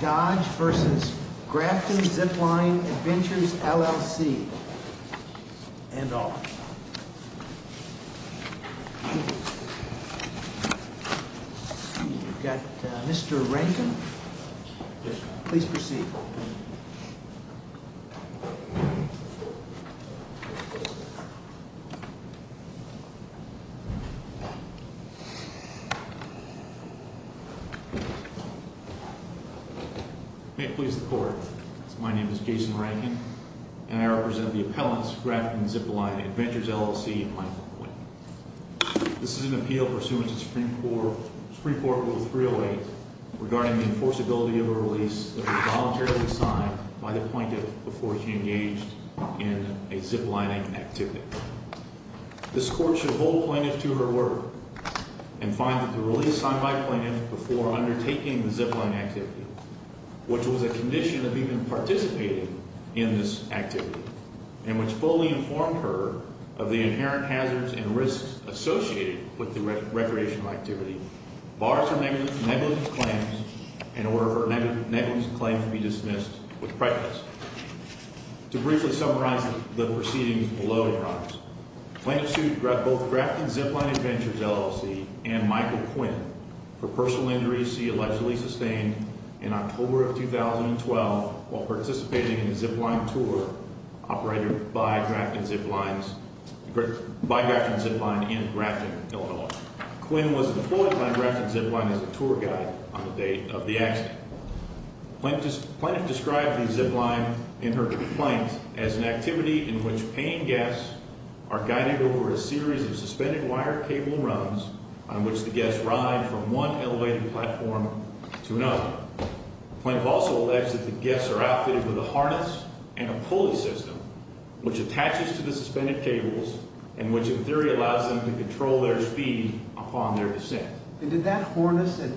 Dodge v. Grafton Zipline Adventures, LLC Mr. Rankin, please proceed. May it please the Court, my name is Jason Rankin, and I represent the appellants, Grafton Zipline Adventures, LLC and Michael Quinn. This is an appeal pursuant to Supreme Court Rule 308 regarding the enforceability of a release that was voluntarily signed by the plaintiff before she engaged in a ziplining activity. This Court should hold plaintiff to her word and find that the release signed by the plaintiff before undertaking the ziplining activity, which was a condition of even participating in this activity, and which fully informed her of the inherent hazards and risks associated with the recreational activity, bars her negligence claims in order for negligence claims to be dismissed with prejudice. To briefly summarize the proceedings below, Your Honors, the plaintiff sued both Grafton Zipline Adventures, LLC and Michael Quinn for personal injuries she allegedly sustained in October of 2012 while participating in a zipline tour operated by Grafton Zipline in Grafton, Illinois. Quinn was deployed by Grafton Zipline as a tour guide on the date of the accident. The plaintiff described the zipline in her complaint as an activity in which paying guests are guided over a series of suspended wire cable runs on which the guests ride from one elevated platform to another. The plaintiff also alleged that the guests are outfitted with a harness and a pulley system which attaches to the suspended cables and which in theory allows them to control their speed upon their descent. And did that harness have a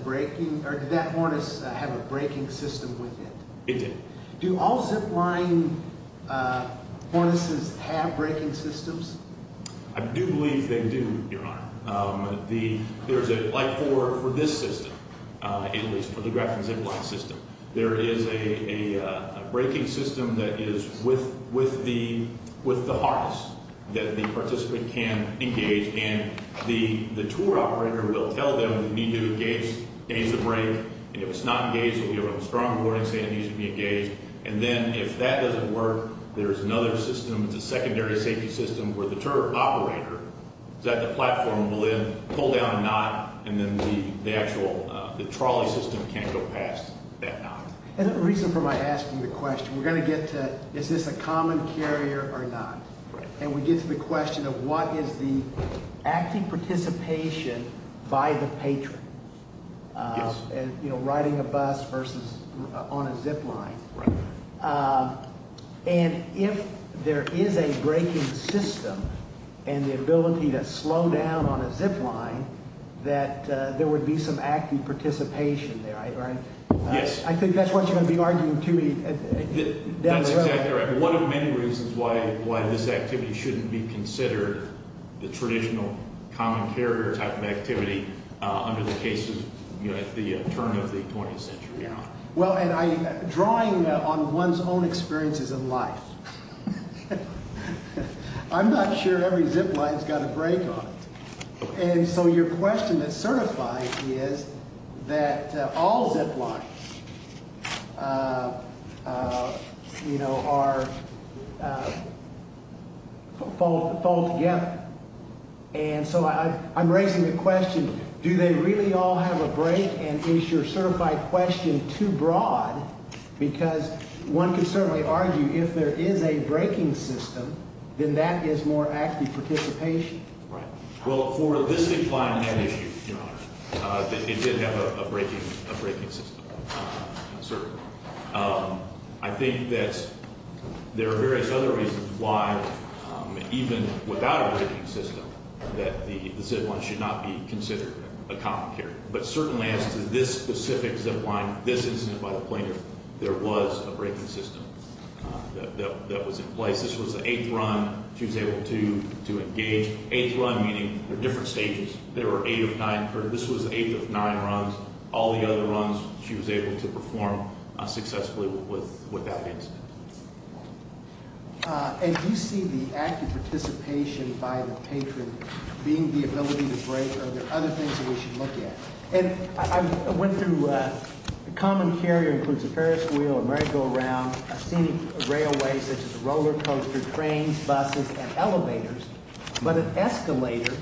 braking system with it? It did. Do all zipline harnesses have braking systems? I do believe they do, Your Honor. There's a, like for this system, at least for the Grafton Zipline system, there is a braking system that is with the harness that the participant can engage. And the tour operator will tell them we need to engage, engage the brake. And if it's not engaged, we'll give them a strong warning saying it needs to be engaged. And then if that doesn't work, there's another system, it's a secondary safety system where the tour operator is at the platform, will then pull down a knot, and then the actual, the trolley system can't go past that knot. And the reason for my asking the question, we're going to get to is this a common carrier or not? Right. And we get to the question of what is the active participation by the patron? Yes. You know, riding a bus versus on a zipline. Right. And if there is a braking system and the ability to slow down on a zipline, that there would be some active participation there, right? Yes. I think that's what you're going to be arguing to me down the road. That's exactly right. One of many reasons why this activity shouldn't be considered the traditional common carrier type of activity under the case of, you know, at the turn of the 20th century, Your Honor. Well, and drawing on one's own experiences in life, I'm not sure every zipline has got a brake on it. And so your question that certifies is that all ziplines, you know, are, fall together. And so I'm raising the question, do they really all have a brake? And is your certified question too broad? Because one can certainly argue if there is a braking system, then that is more active participation. Right. Well, for this zipline, Your Honor, it did have a braking system, certainly. I think that there are various other reasons why, even without a braking system, that the zipline should not be considered a common carrier. But certainly as to this specific zipline, this incident by the plaintiff, there was a braking system that was in place. This was the eighth run. She was able to engage. Eighth run meaning there are different stages. There were eight of nine. This was the eighth of nine runs. All the other runs, she was able to perform successfully with that incident. And do you see the active participation by the patron being the ability to brake, or are there other things that we should look at? And I went through a common carrier includes a Ferris wheel, a merry-go-round, a scenic railway such as a roller coaster, trains, buses, and elevators. But an escalator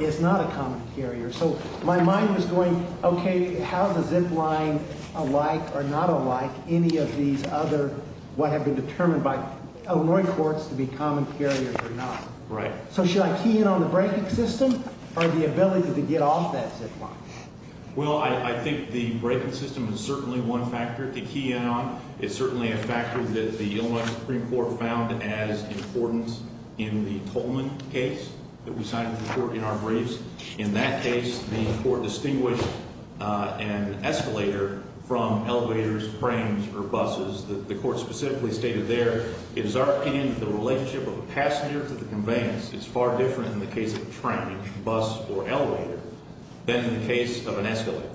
is not a common carrier. So my mind was going, okay, how is a zipline alike or not alike any of these other what have been determined by Illinois courts to be common carriers or not? Right. So should I key in on the braking system or the ability to get off that zipline? Well, I think the braking system is certainly one factor to key in on. It's certainly a factor that the Illinois Supreme Court found as important in the Tolman case that we signed into court in our briefs. In that case, the court distinguished an escalator from elevators, trains, or buses. The court specifically stated there, it is our opinion that the relationship of a passenger to the conveyance is far different in the case of a train, bus, or elevator than in the case of an escalator.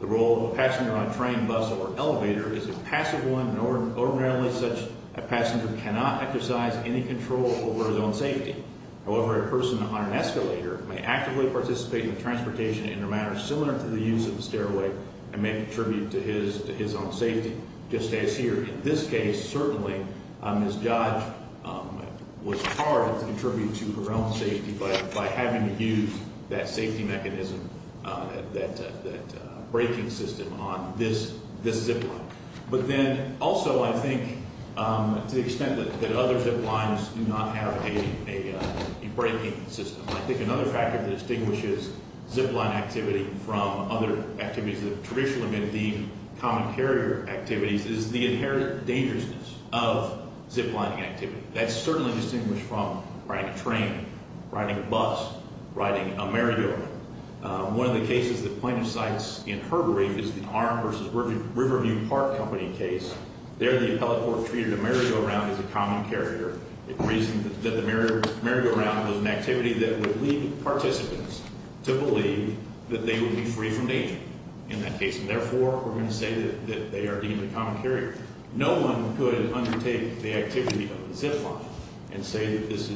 The role of a passenger on a train, bus, or elevator is a passive one, and ordinarily such a passenger cannot exercise any control over his own safety. However, a person on an escalator may actively participate in transportation in a manner similar to the use of the stairway and may contribute to his own safety, just as here. In this case, certainly, Ms. Dodge was hard to contribute to her own safety by having to use that safety mechanism, that braking system on this zipline. But then also, I think, to the extent that other ziplines do not have a braking system. I think another factor that distinguishes zipline activity from other activities that have traditionally been deemed common carrier activities is the inherent dangerousness of ziplining activity. That's certainly distinguished from riding a train, riding a bus, riding a merry-go-round. One of the cases that plaintiff cites in her brief is the Arm v. Riverview Park Company case. There, the appellate court treated a merry-go-round as a common carrier. It reasoned that the merry-go-round was an activity that would lead participants to believe that they would be free from danger in that case. And therefore, we're going to say that they are deemed a common carrier. No one could undertake the activity of a zipline and say that this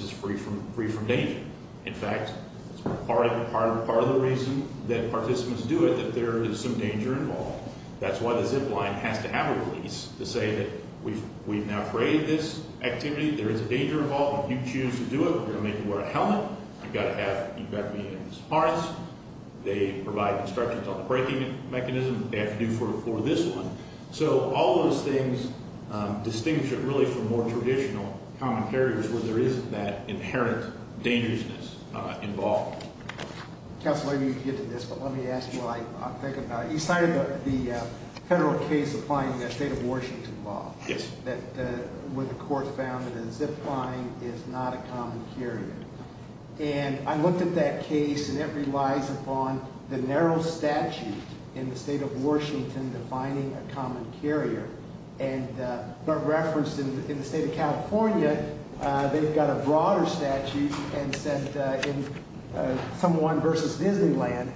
is free from danger. In fact, it's part of the reason that participants do it, that there is some danger involved. That's why the zipline has to have a release to say that we've now created this activity. There is a danger involved. If you choose to do it, we're going to make you wear a helmet. I've got to have—you've got to be able to support us. They provide instructions on the braking mechanism. They have to do it for this one. So all those things distinguish it really from more traditional common carriers where there isn't that inherent dangerousness involved. Counselor, I didn't mean to get to this, but let me ask you what I'm thinking about. You cited the federal case applying the State of Washington law. Yes. Where the court found that a zipline is not a common carrier. And I looked at that case, and it relies upon the narrow statute in the State of Washington defining a common carrier. But referenced in the State of California, they've got a broader statute and said in someone versus Disneyland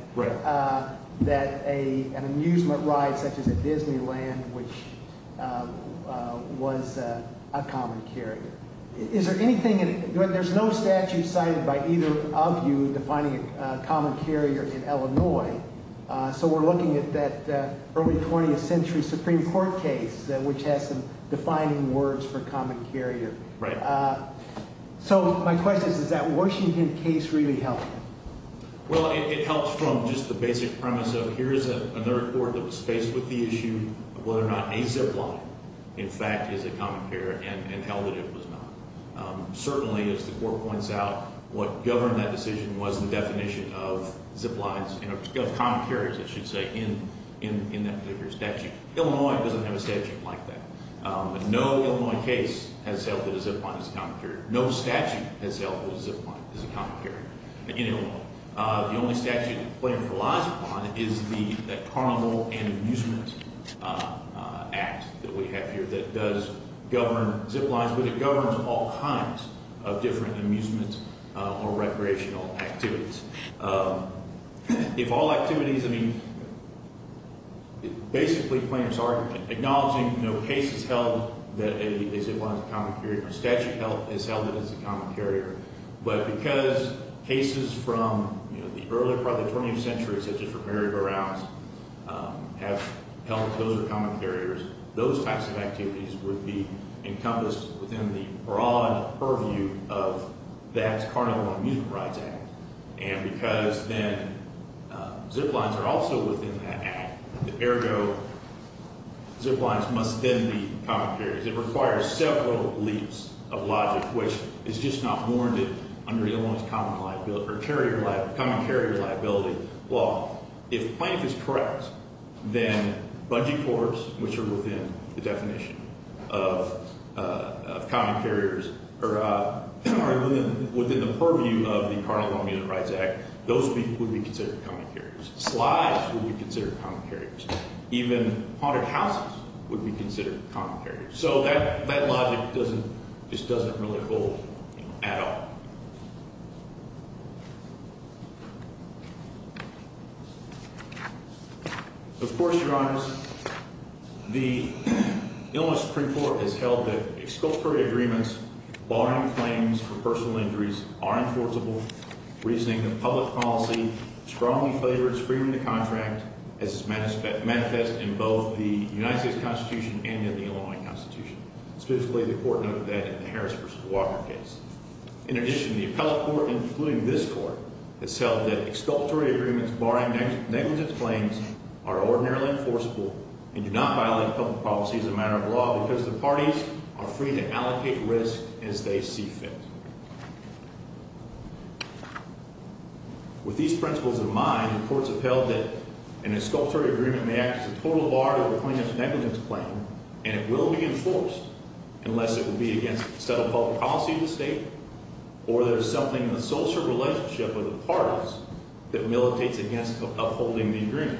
that an amusement ride such as a Disneyland, which was a common carrier. Is there anything—there's no statute cited by either of you defining a common carrier in Illinois. So we're looking at that early 20th century Supreme Court case, which has some defining words for common carrier. Right. So my question is, does that Washington case really help? Well, it helps from just the basic premise of here's another court that was faced with the issue of whether or not a zipline, in fact, is a common carrier and held that it was not. Certainly, as the court points out, what governed that decision was the definition of ziplines—of common carriers, I should say, in that particular statute. Illinois doesn't have a statute like that. No Illinois case has held that a zipline is a common carrier. No statute has held that a zipline is a common carrier in Illinois. The only statute the plaintiff relies upon is the Carnival and Amusement Act that we have here that does govern ziplines, but it governs all kinds of different amusement or recreational activities. If all activities—I mean, basically, plaintiffs are acknowledging cases held that a zipline is a common carrier. A statute has held it as a common carrier. But because cases from the early part of the 20th century, such as for merry-go-rounds, have held that those are common carriers, those types of activities would be encompassed within the broad purview of that Carnival and Amusement Rights Act. And because then ziplines are also within that act, ergo, ziplines must then be common carriers. It requires several leaps of logic, which is just not warranted under Illinois's common carrier liability law. If the plaintiff is correct, then bungee cords, which are within the definition of common carriers, or within the purview of the Carnival and Amusement Rights Act, those would be considered common carriers. Slides would be considered common carriers. Even haunted houses would be considered common carriers. So that logic doesn't—just doesn't really hold at all. Of course, Your Honors, the Illinois Supreme Court has held that exculpatory agreements barring claims for personal injuries are enforceable, reasoning that public policy strongly favors freeing the contract, as is manifested in both the United States Constitution and in the Illinois Constitution. Specifically, the Court noted that in the Harris v. Walker case. In addition, the appellate court, including this court, has held that exculpatory agreements barring negligence claims are ordinarily enforceable and do not violate public policy as a matter of law because the parties are free to allocate risk as they see fit. With these principles in mind, the courts have held that an exculpatory agreement may act as a total bar to the plaintiff's negligence claim, and it will be enforced unless it would be against the settled public policy of the state or there's something in the social relationship of the parties that militates against upholding the agreement.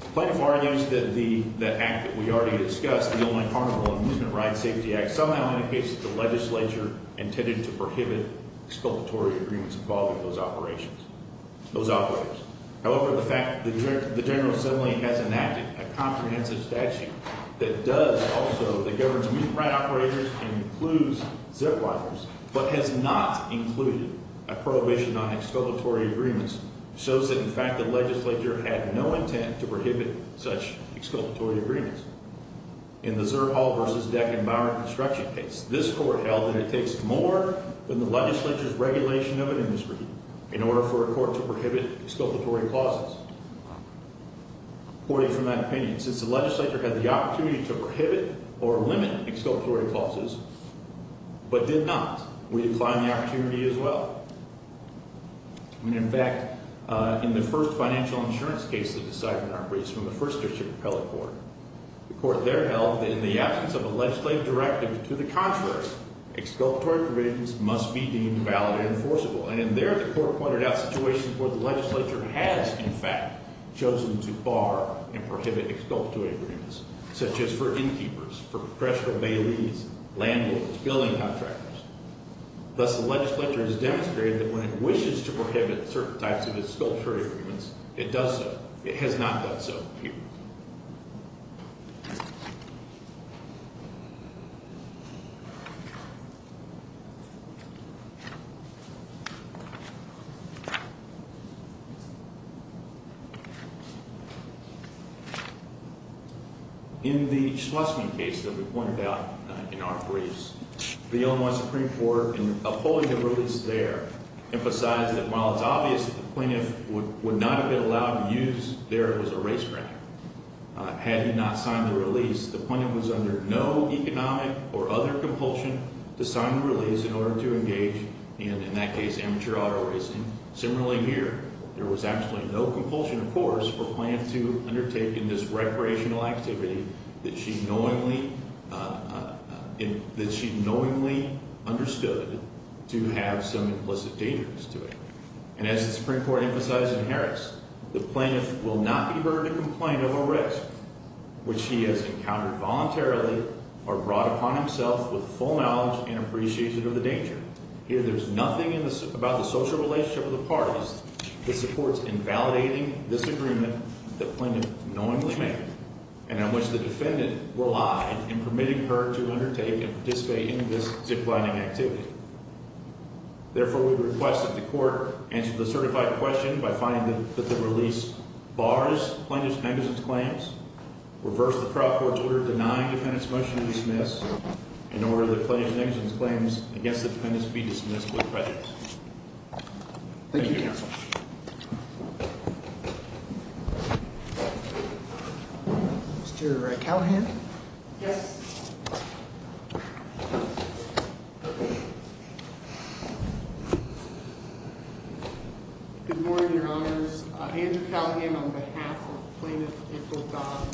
The plaintiff argues that the act that we already discussed, the Illinois Carnival and Amusement Rights Safety Act, somehow indicates that the legislature intended to prohibit exculpatory agreements involving those operations—those operatives. However, the fact that the General Assembly has enacted a comprehensive statute that does also—that governs amusement right operators and includes zip wires, but has not included a prohibition on exculpatory agreements, shows that, in fact, the legislature had no intent to prohibit such exculpatory agreements. In the Zerr Hall v. Deckenbauer construction case, this court held that it takes more than the legislature's regulation of an industry in order for a court to prohibit exculpatory clauses. Reporting from that opinion, since the legislature had the opportunity to prohibit or limit exculpatory clauses, but did not, we decline the opportunity as well. And, in fact, in the first financial insurance case of the Seidman Arbreece from the First District Appellate Court, the court there held that in the absence of a legislative directive to the contrary, exculpatory provisions must be deemed valid and enforceable. And in there, the court pointed out situations where the legislature has, in fact, chosen to bar and prohibit exculpatory agreements, such as for innkeepers, for professional baileys, landlords, building contractors. Thus, the legislature has demonstrated that when it wishes to prohibit certain types of exculpatory agreements, it does so. It has not done so here. In the Schleswig case that we pointed out in Arbreece, the Illinois Supreme Court, in upholding the release there, emphasized that while it's obvious that the plaintiff would not have been allowed to use there as a race tracker, had he not signed the release, the plaintiff was under no economic or other compulsion to sign the release in order to engage, and in that case, amateur auto racing. Similarly here, there was absolutely no compulsion, of course, for Plaintiff to undertake in this recreational activity that she knowingly understood to have some implicit dangers to it. And as the Supreme Court emphasized in Harris, the plaintiff will not be burdened to complain of a risk, which he has encountered voluntarily or brought upon himself with full knowledge and appreciation of the danger. Here, there's nothing about the social relationship of the parties that supports invalidating this agreement that Plaintiff knowingly made, and on which the defendant relied in permitting her to undertake and participate in this zip-lining activity. Therefore, we request that the court answer the certified question by finding that the release bars Plaintiff's negligence claims, reverse the proper order denying defendant's motion to dismiss, in order that Plaintiff's negligence claims against the defendant be dismissed with credit. Thank you, counsel. Mr. Callahan? Yes. Good morning, Your Honors. Andrew Callahan on behalf of Plaintiff April Dodd.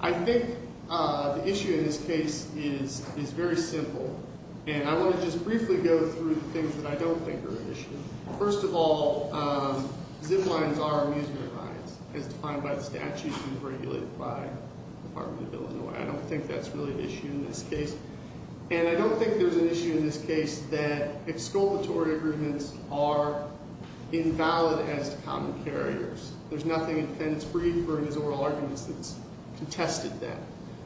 I think the issue in this case is very simple, and I want to just briefly go through the things that I don't think are an issue. First of all, zip-lines are amusement rides, as defined by the statute and regulated by the Department of Illinois. I don't think that's really an issue in this case. And I don't think there's an issue in this case that exculpatory agreements are invalid as to common carriers. There's nothing in defendant's brief or in his oral arguments that's contested that.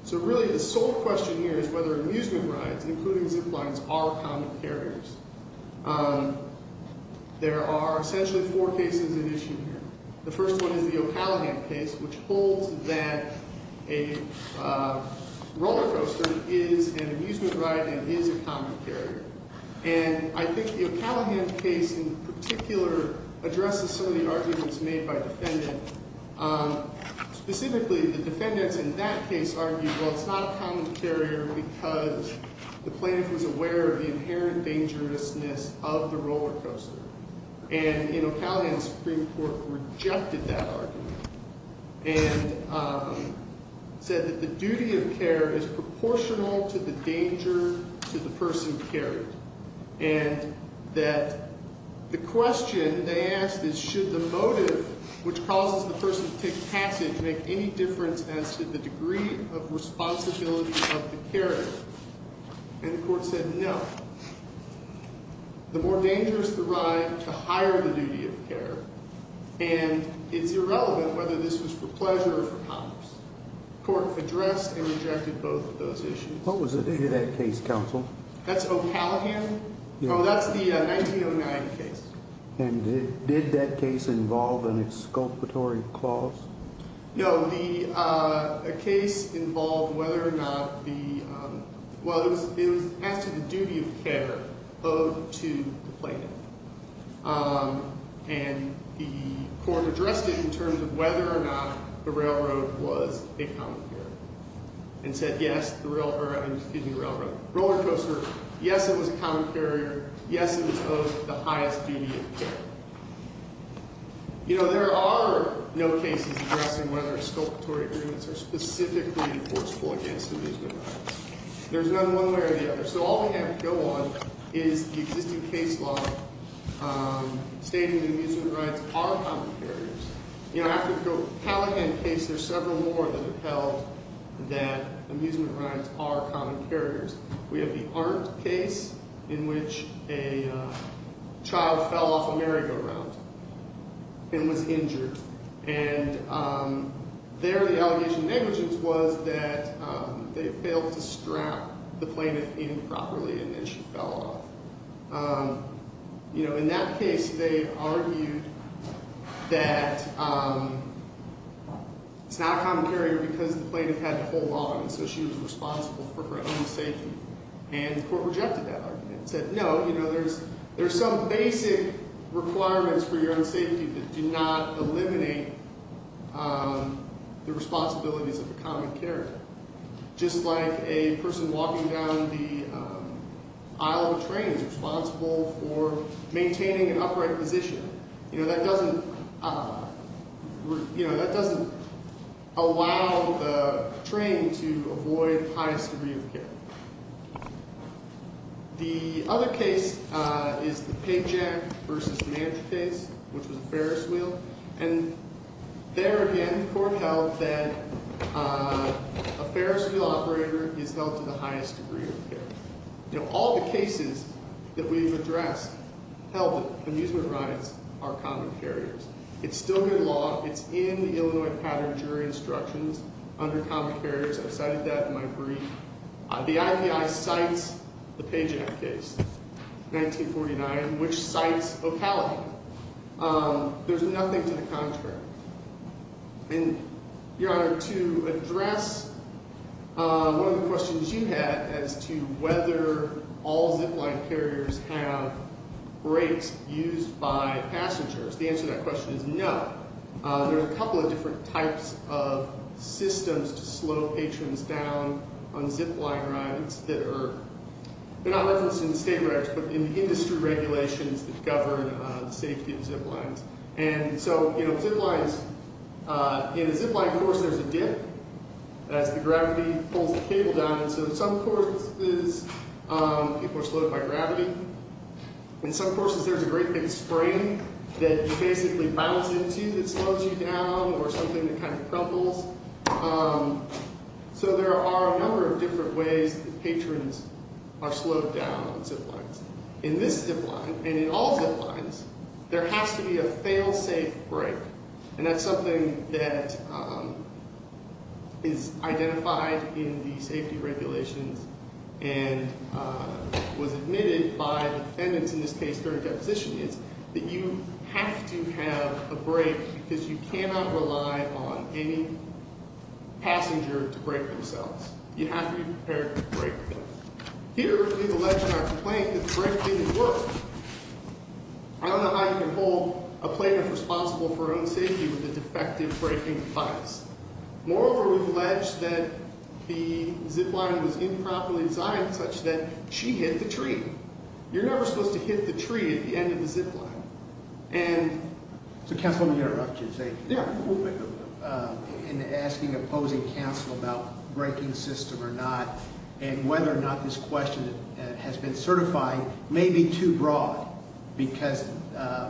So really, the sole question here is whether amusement rides, including zip-lines, are common carriers. There are essentially four cases at issue here. The first one is the O'Callaghan case, which holds that a roller coaster is an amusement ride and is a common carrier. And I think the O'Callaghan case in particular addresses some of the arguments made by defendant. Specifically, the defendants in that case argued, well, it's not a common carrier because the plaintiff was aware of the inherent dangerousness of the roller coaster. And in O'Callaghan, the Supreme Court rejected that argument and said that the duty of care is proportional to the danger to the person carried. And that the question they asked is should the motive which causes the person to take passage make any difference as to the degree of responsibility of the carrier? And the court said no. The more dangerous the ride, the higher the duty of care. And it's irrelevant whether this was for pleasure or for commerce. The court addressed and rejected both of those issues. What was the date of that case, counsel? That's O'Callaghan? Oh, that's the 1909 case. And did that case involve an exculpatory clause? No. The case involved whether or not the, well, it was as to the duty of care owed to the plaintiff. And the court addressed it in terms of whether or not the railroad was a common carrier. And said yes, the railroad, excuse me, roller coaster, yes, it was a common carrier. Yes, it was owed the highest duty of care. You know, there are no cases addressing whether exculpatory agreements are specifically enforceable against amusement rides. There's none one way or the other. So all we have to go on is the existing case law stating amusement rides are common carriers. You know, after the O'Callaghan case, there's several more that upheld that amusement rides are common carriers. We have the Arndt case in which a child fell off a merry-go-round and was injured. And there the allegation of negligence was that they failed to strap the plaintiff in properly and then she fell off. You know, in that case, they argued that it's not a common carrier because the plaintiff had to hold on. So she was responsible for her own safety. And the court rejected that argument. Said no, you know, there's some basic requirements for your own safety that do not eliminate the responsibilities of a common carrier. Just like a person walking down the aisle of a train is responsible for maintaining an upright position. You know, that doesn't, you know, that doesn't allow the train to avoid the highest degree of care. The other case is the Paycheck v. Mantra case, which was a Ferris wheel. And there again, the court held that a Ferris wheel operator is held to the highest degree of care. You know, all the cases that we've addressed held that amusement rides are common carriers. It's still in the law. It's in the Illinois pattern of jury instructions under common carriers. I cited that in my brief. The IPI cites the Paycheck case, 1949, which cites O'Callaghan. There's nothing to the contrary. And, Your Honor, to address one of the questions you had as to whether all zipline carriers have brakes used by passengers, the answer to that question is no. There are a couple of different types of systems to slow patrons down on zipline rides that are not referenced in the state records, but in the industry regulations that govern the safety of ziplines. And so, you know, ziplines, in a zipline course, there's a dip as the gravity pulls the cable down. And so in some courses, people are slowed by gravity. In some courses, there's a great big spring that you basically bounce into that slows you down or something that kind of crumples. So there are a number of different ways that patrons are slowed down on ziplines. In this zipline, and in all ziplines, there has to be a failsafe brake. And that's something that is identified in the safety regulations and was admitted by the defendants in this case during deposition is that you have to have a brake because you cannot rely on any passenger to brake themselves. You have to be prepared to brake. Here, we've alleged in our complaint that the brake didn't work. I don't know how you can hold a plaintiff responsible for her own safety with a defective braking device. Moreover, we've alleged that the zipline was improperly designed such that she hit the tree. You're never supposed to hit the tree at the end of the zipline. So, counsel, let me interrupt you and say, there are a couple of things. In asking opposing counsel about braking system or not and whether or not this question has been certified may be too broad because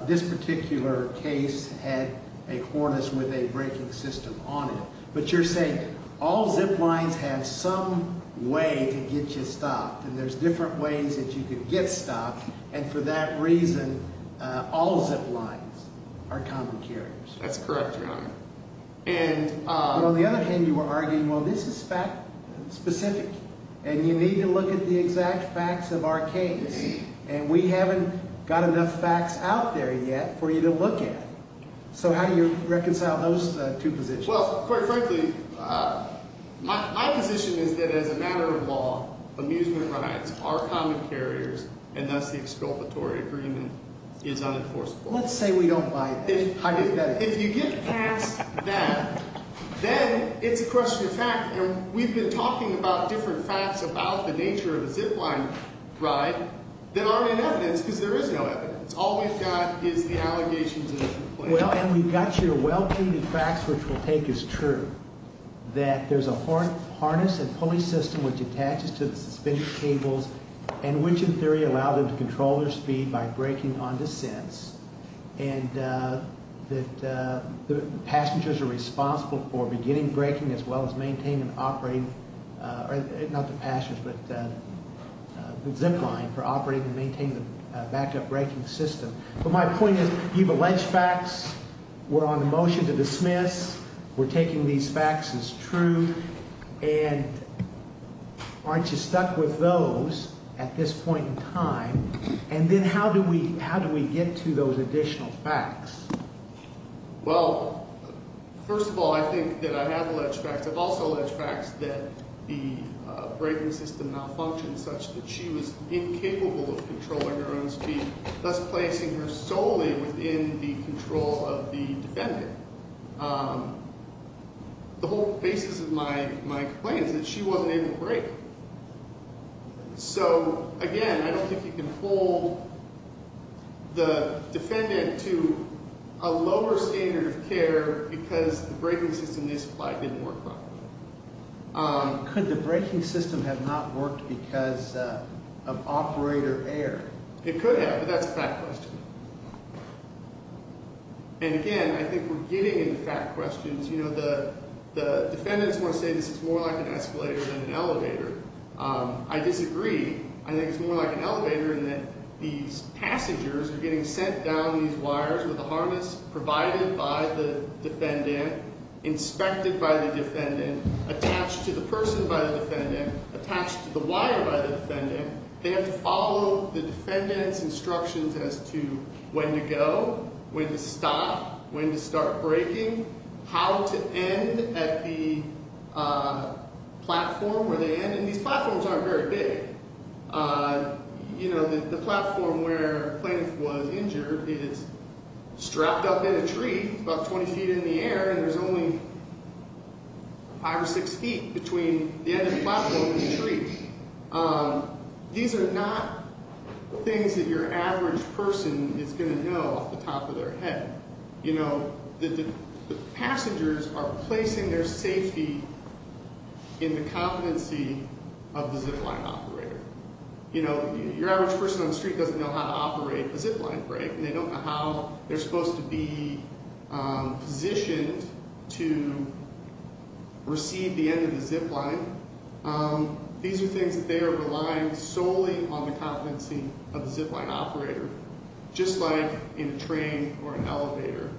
this particular case had a harness with a braking system on it. But you're saying all ziplines have some way to get you stopped. And there's different ways that you can get stopped. And for that reason, all ziplines are common carriers. That's correct, Your Honor. And on the other hand, you were arguing, well, this is fact specific. And you need to look at the exact facts of our case. And we haven't got enough facts out there yet for you to look at. So how do you reconcile those two positions? Well, quite frankly, my position is that as a matter of law, amusement rides are common carriers, and thus the exculpatory agreement is unenforceable. Let's say we don't buy that. If you get past that, then it's a question of fact. And we've been talking about different facts about the nature of a zipline ride that aren't in evidence because there is no evidence. All we've got is the allegations in the complaint. And we've got your well-treated facts, which we'll take as true, that there's a harness and pulley system which attaches to the suspension cables, and which, in theory, allow them to control their speed by braking on descents, and that the passengers are responsible for beginning braking as well as maintaining and operating, not the passengers, but the zipline, for operating and maintaining the backup braking system. But my point is you have alleged facts. We're on a motion to dismiss. We're taking these facts as true. And aren't you stuck with those at this point in time? And then how do we get to those additional facts? Well, first of all, I think that I have alleged facts. I've also alleged facts that the braking system malfunctioned such that she was incapable of controlling her own speed, thus placing her solely within the control of the defendant. The whole basis of my complaint is that she wasn't able to brake. So, again, I don't think you can hold the defendant to a lower standard of care because the braking system in this flight didn't work properly. Could the braking system have not worked because of operator error? It could have, but that's a fact question. And, again, I think we're getting into fact questions. You know, the defendants want to say this is more like an escalator than an elevator. I disagree. I think it's more like an elevator in that these passengers are getting sent down these wires with a harness provided by the defendant, inspected by the defendant, attached to the person by the defendant, attached to the wire by the defendant. They have to follow the defendant's instructions as to when to go, when to stop, when to start braking, how to end at the platform where they end. And these platforms aren't very big. You know, the platform where the plaintiff was injured is strapped up in a tree about 20 feet in the air, and there's only five or six feet between the end of the platform and the tree. These are not things that your average person is going to know off the top of their head. You know, the passengers are placing their safety in the competency of the zip line operator. You know, your average person on the street doesn't know how to operate a zip line brake, and they don't know how they're supposed to be positioned to receive the end of the zip line. These are things that they are relying solely on the competency of the zip line operator, just like in a train or an elevator.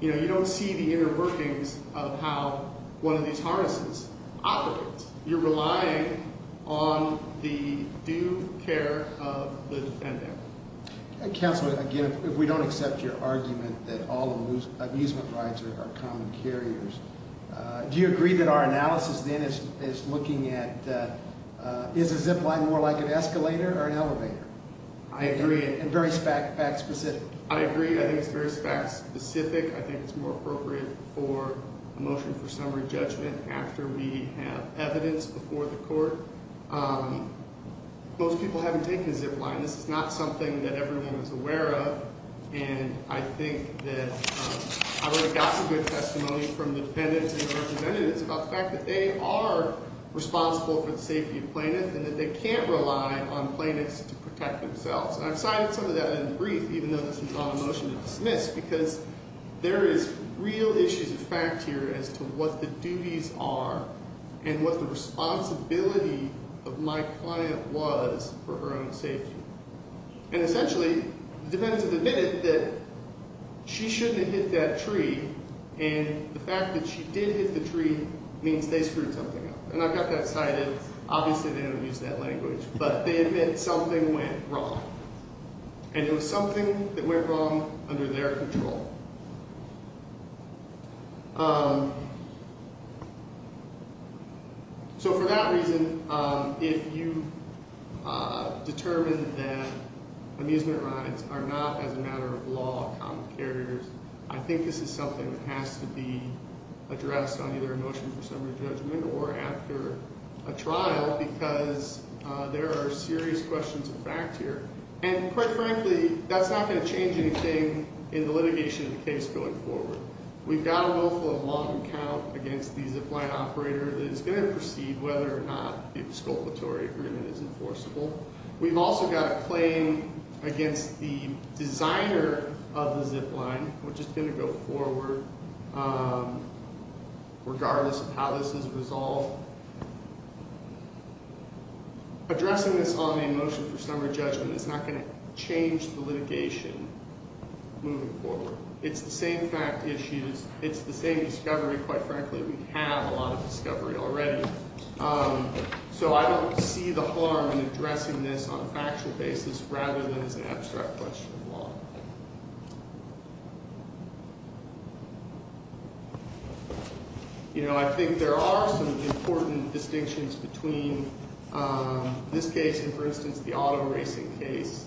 You know, you don't see the inner workings of how one of these harnesses operates. You're relying on the due care of the defendant. Counselor, again, if we don't accept your argument that all amusement rides are common carriers, do you agree that our analysis then is looking at is a zip line more like an escalator or an elevator? I agree. And very fact-specific? I agree. I think it's very fact-specific. I think it's more appropriate for a motion for summary judgment after we have evidence before the court. Most people haven't taken a zip line. This is not something that everyone is aware of. And I think that I would have gotten good testimony from the defendants and the representatives about the fact that they are responsible for the safety of plaintiffs and that they can't rely on plaintiffs to protect themselves. And I've cited some of that in the brief, even though this is not a motion to dismiss, because there is real issues of fact here as to what the duties are and what the responsibility of my client was for her own safety. And essentially, the defendants have admitted that she shouldn't have hit that tree. And the fact that she did hit the tree means they screwed something up. And I've got that cited. Obviously, they don't use that language. But they admit something went wrong. And it was something that went wrong under their control. So for that reason, if you determine that amusement rides are not, as a matter of law, common carriers, I think this is something that has to be addressed on either a motion for summary judgment or after a trial because there are serious questions of fact here. And quite frankly, that's not going to change anything in the litigation of the case going forward. We've got a willful and long account against the zip line operator that is going to proceed whether or not the exculpatory agreement is enforceable. We've also got a claim against the designer of the zip line, which is going to go forward, regardless of how this is resolved. Addressing this on a motion for summary judgment is not going to change the litigation moving forward. It's the same fact issues. It's the same discovery, quite frankly. We have a lot of discovery already. So I don't see the harm in addressing this on a factual basis rather than as an abstract question of law. You know, I think there are some important distinctions between this case and, for instance, the auto racing case,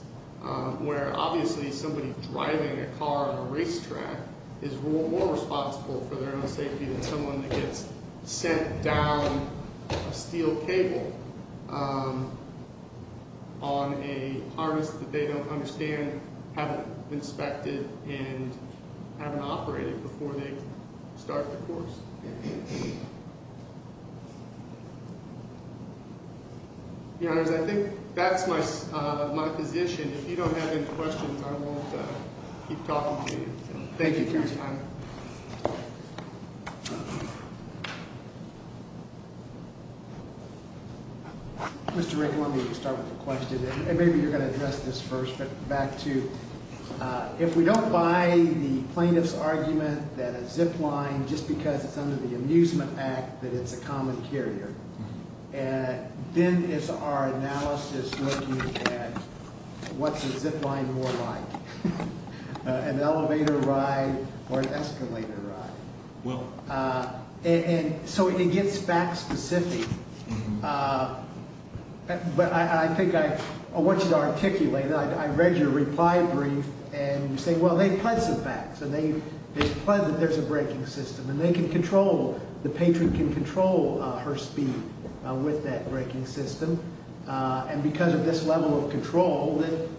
where obviously somebody driving a car on a racetrack is more responsible for their own safety than someone that gets sent down a steel cable on a harness that they don't understand, haven't inspected, and haven't operated before they start the course. Your Honors, I think that's my position. If you don't have any questions, I won't keep talking to you. Thank you for your time. Mr. Rick, let me start with a question, and maybe you're going to address this first. But back to if we don't buy the plaintiff's argument that a zip line, just because it's under the Amusement Act, that it's a common carrier, then is our analysis looking at what's a zip line more like, an elevator ride or an escalator ride? And so it gets fact specific. But I think I want you to articulate it. I read your reply brief, and you say, well, they've pledged some facts, and they've pledged that there's a braking system, and they can control, the patron can control her speed with that braking system. And because of this level of control, it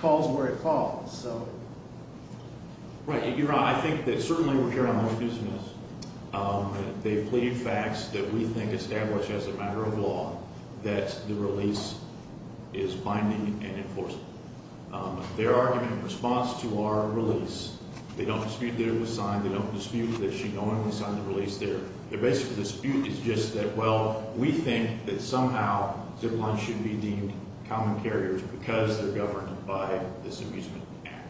falls where it falls. Right. Your Honor, I think that certainly we're carrying on their business. They've pleaded facts that we think established as a matter of law that the release is binding and enforceable. Their argument in response to our release, they don't dispute that it was signed. They don't dispute that she knowingly signed the release there. Their basic dispute is just that, well, we think that somehow zip lines should be deemed common carriers because they're governed by this Amusement Act.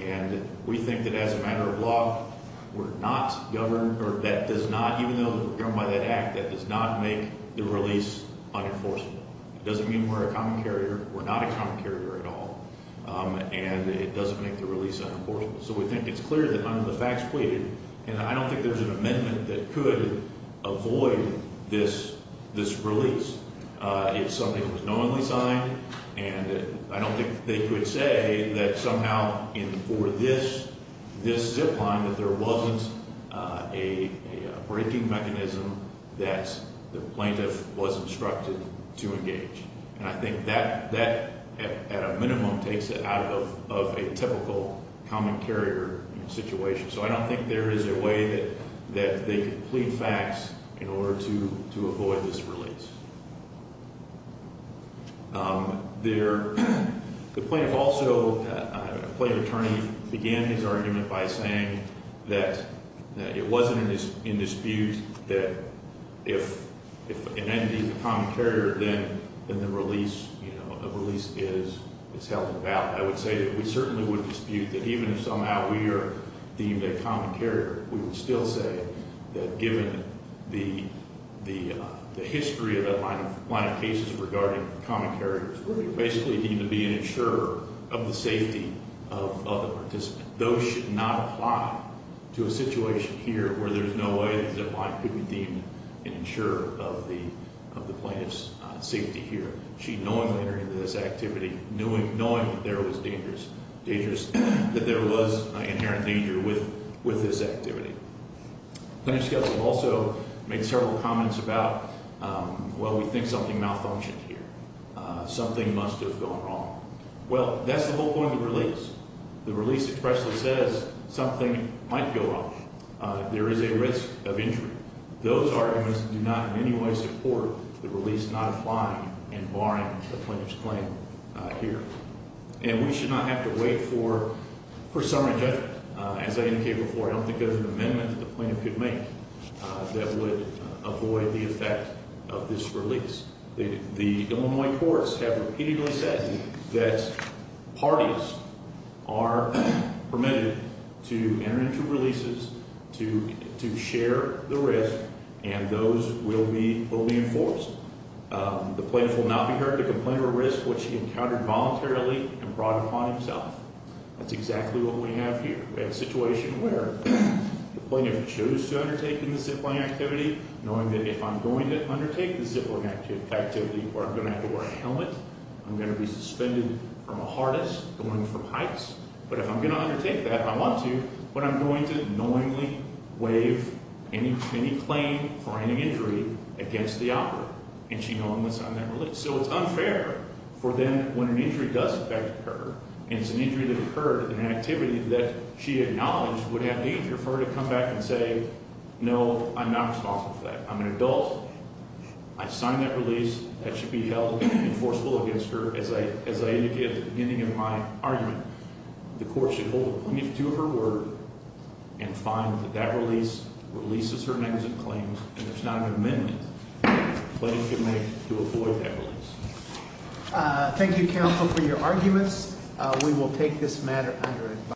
And we think that as a matter of law, we're not governed, or that does not, even though we're governed by that act, that does not make the release unenforceable. It doesn't mean we're a common carrier. We're not a common carrier at all. And it doesn't make the release unenforceable. So we think it's clear that under the facts pleaded, and I don't think there's an amendment that could avoid this release if something was knowingly signed. And I don't think they could say that somehow for this zip line that there wasn't a braking mechanism that the plaintiff was instructed to engage. And I think that, at a minimum, takes it out of a typical common carrier situation. So I don't think there is a way that they could plead facts in order to avoid this release. The plaintiff also, a plaintiff attorney, began his argument by saying that it wasn't in dispute that if an entity is a common carrier, then the release, you know, a release is held in doubt. I would say that we certainly would dispute that even if somehow we are deemed a common carrier, we would still say that given the history of that line of cases regarding common carriers, we basically need to be an insurer of the safety of the participant. Those should not apply to a situation here where there's no way that a zip line could be deemed an insurer of the plaintiff's safety here. She knowingly entered into this activity knowing that there was danger, dangerous, that there was inherent danger with this activity. Plaintiff's counsel also made several comments about, well, we think something malfunctioned here. Something must have gone wrong. Well, that's the whole point of the release. The release expressly says something might go wrong. There is a risk of injury. Those arguments do not in any way support the release not applying and barring the plaintiff's claim here. And we should not have to wait for summary judgment. As I indicated before, I don't think there's an amendment that the plaintiff could make that would avoid the effect of this release. The Illinois courts have repeatedly said that parties are permitted to enter into releases, to share the risk, and those will be enforced. The plaintiff will not be heard to complain of a risk which he encountered voluntarily and brought upon himself. That's exactly what we have here. We have a situation where the plaintiff chose to undertake the zip line activity knowing that if I'm going to undertake the zip line activity where I'm going to have to wear a helmet, I'm going to be suspended from a harness, going from heights. But if I'm going to undertake that, I want to, but I'm going to knowingly waive any claim for any injury against the operator. And she knowingly signed that release. So it's unfair for them when an injury does affect her, and it's an injury that occurred in an activity that she acknowledged would have the injury for her to come back and say, no, I'm not responsible for that. I'm an adult. I signed that release. That should be held enforceable against her, as I indicated at the beginning of my argument. The court should hold the plaintiff to her word and find that that release releases her negative claims and there's not an amendment the plaintiff could make to avoid that release. Thank you, counsel, for your arguments. We will take this matter under.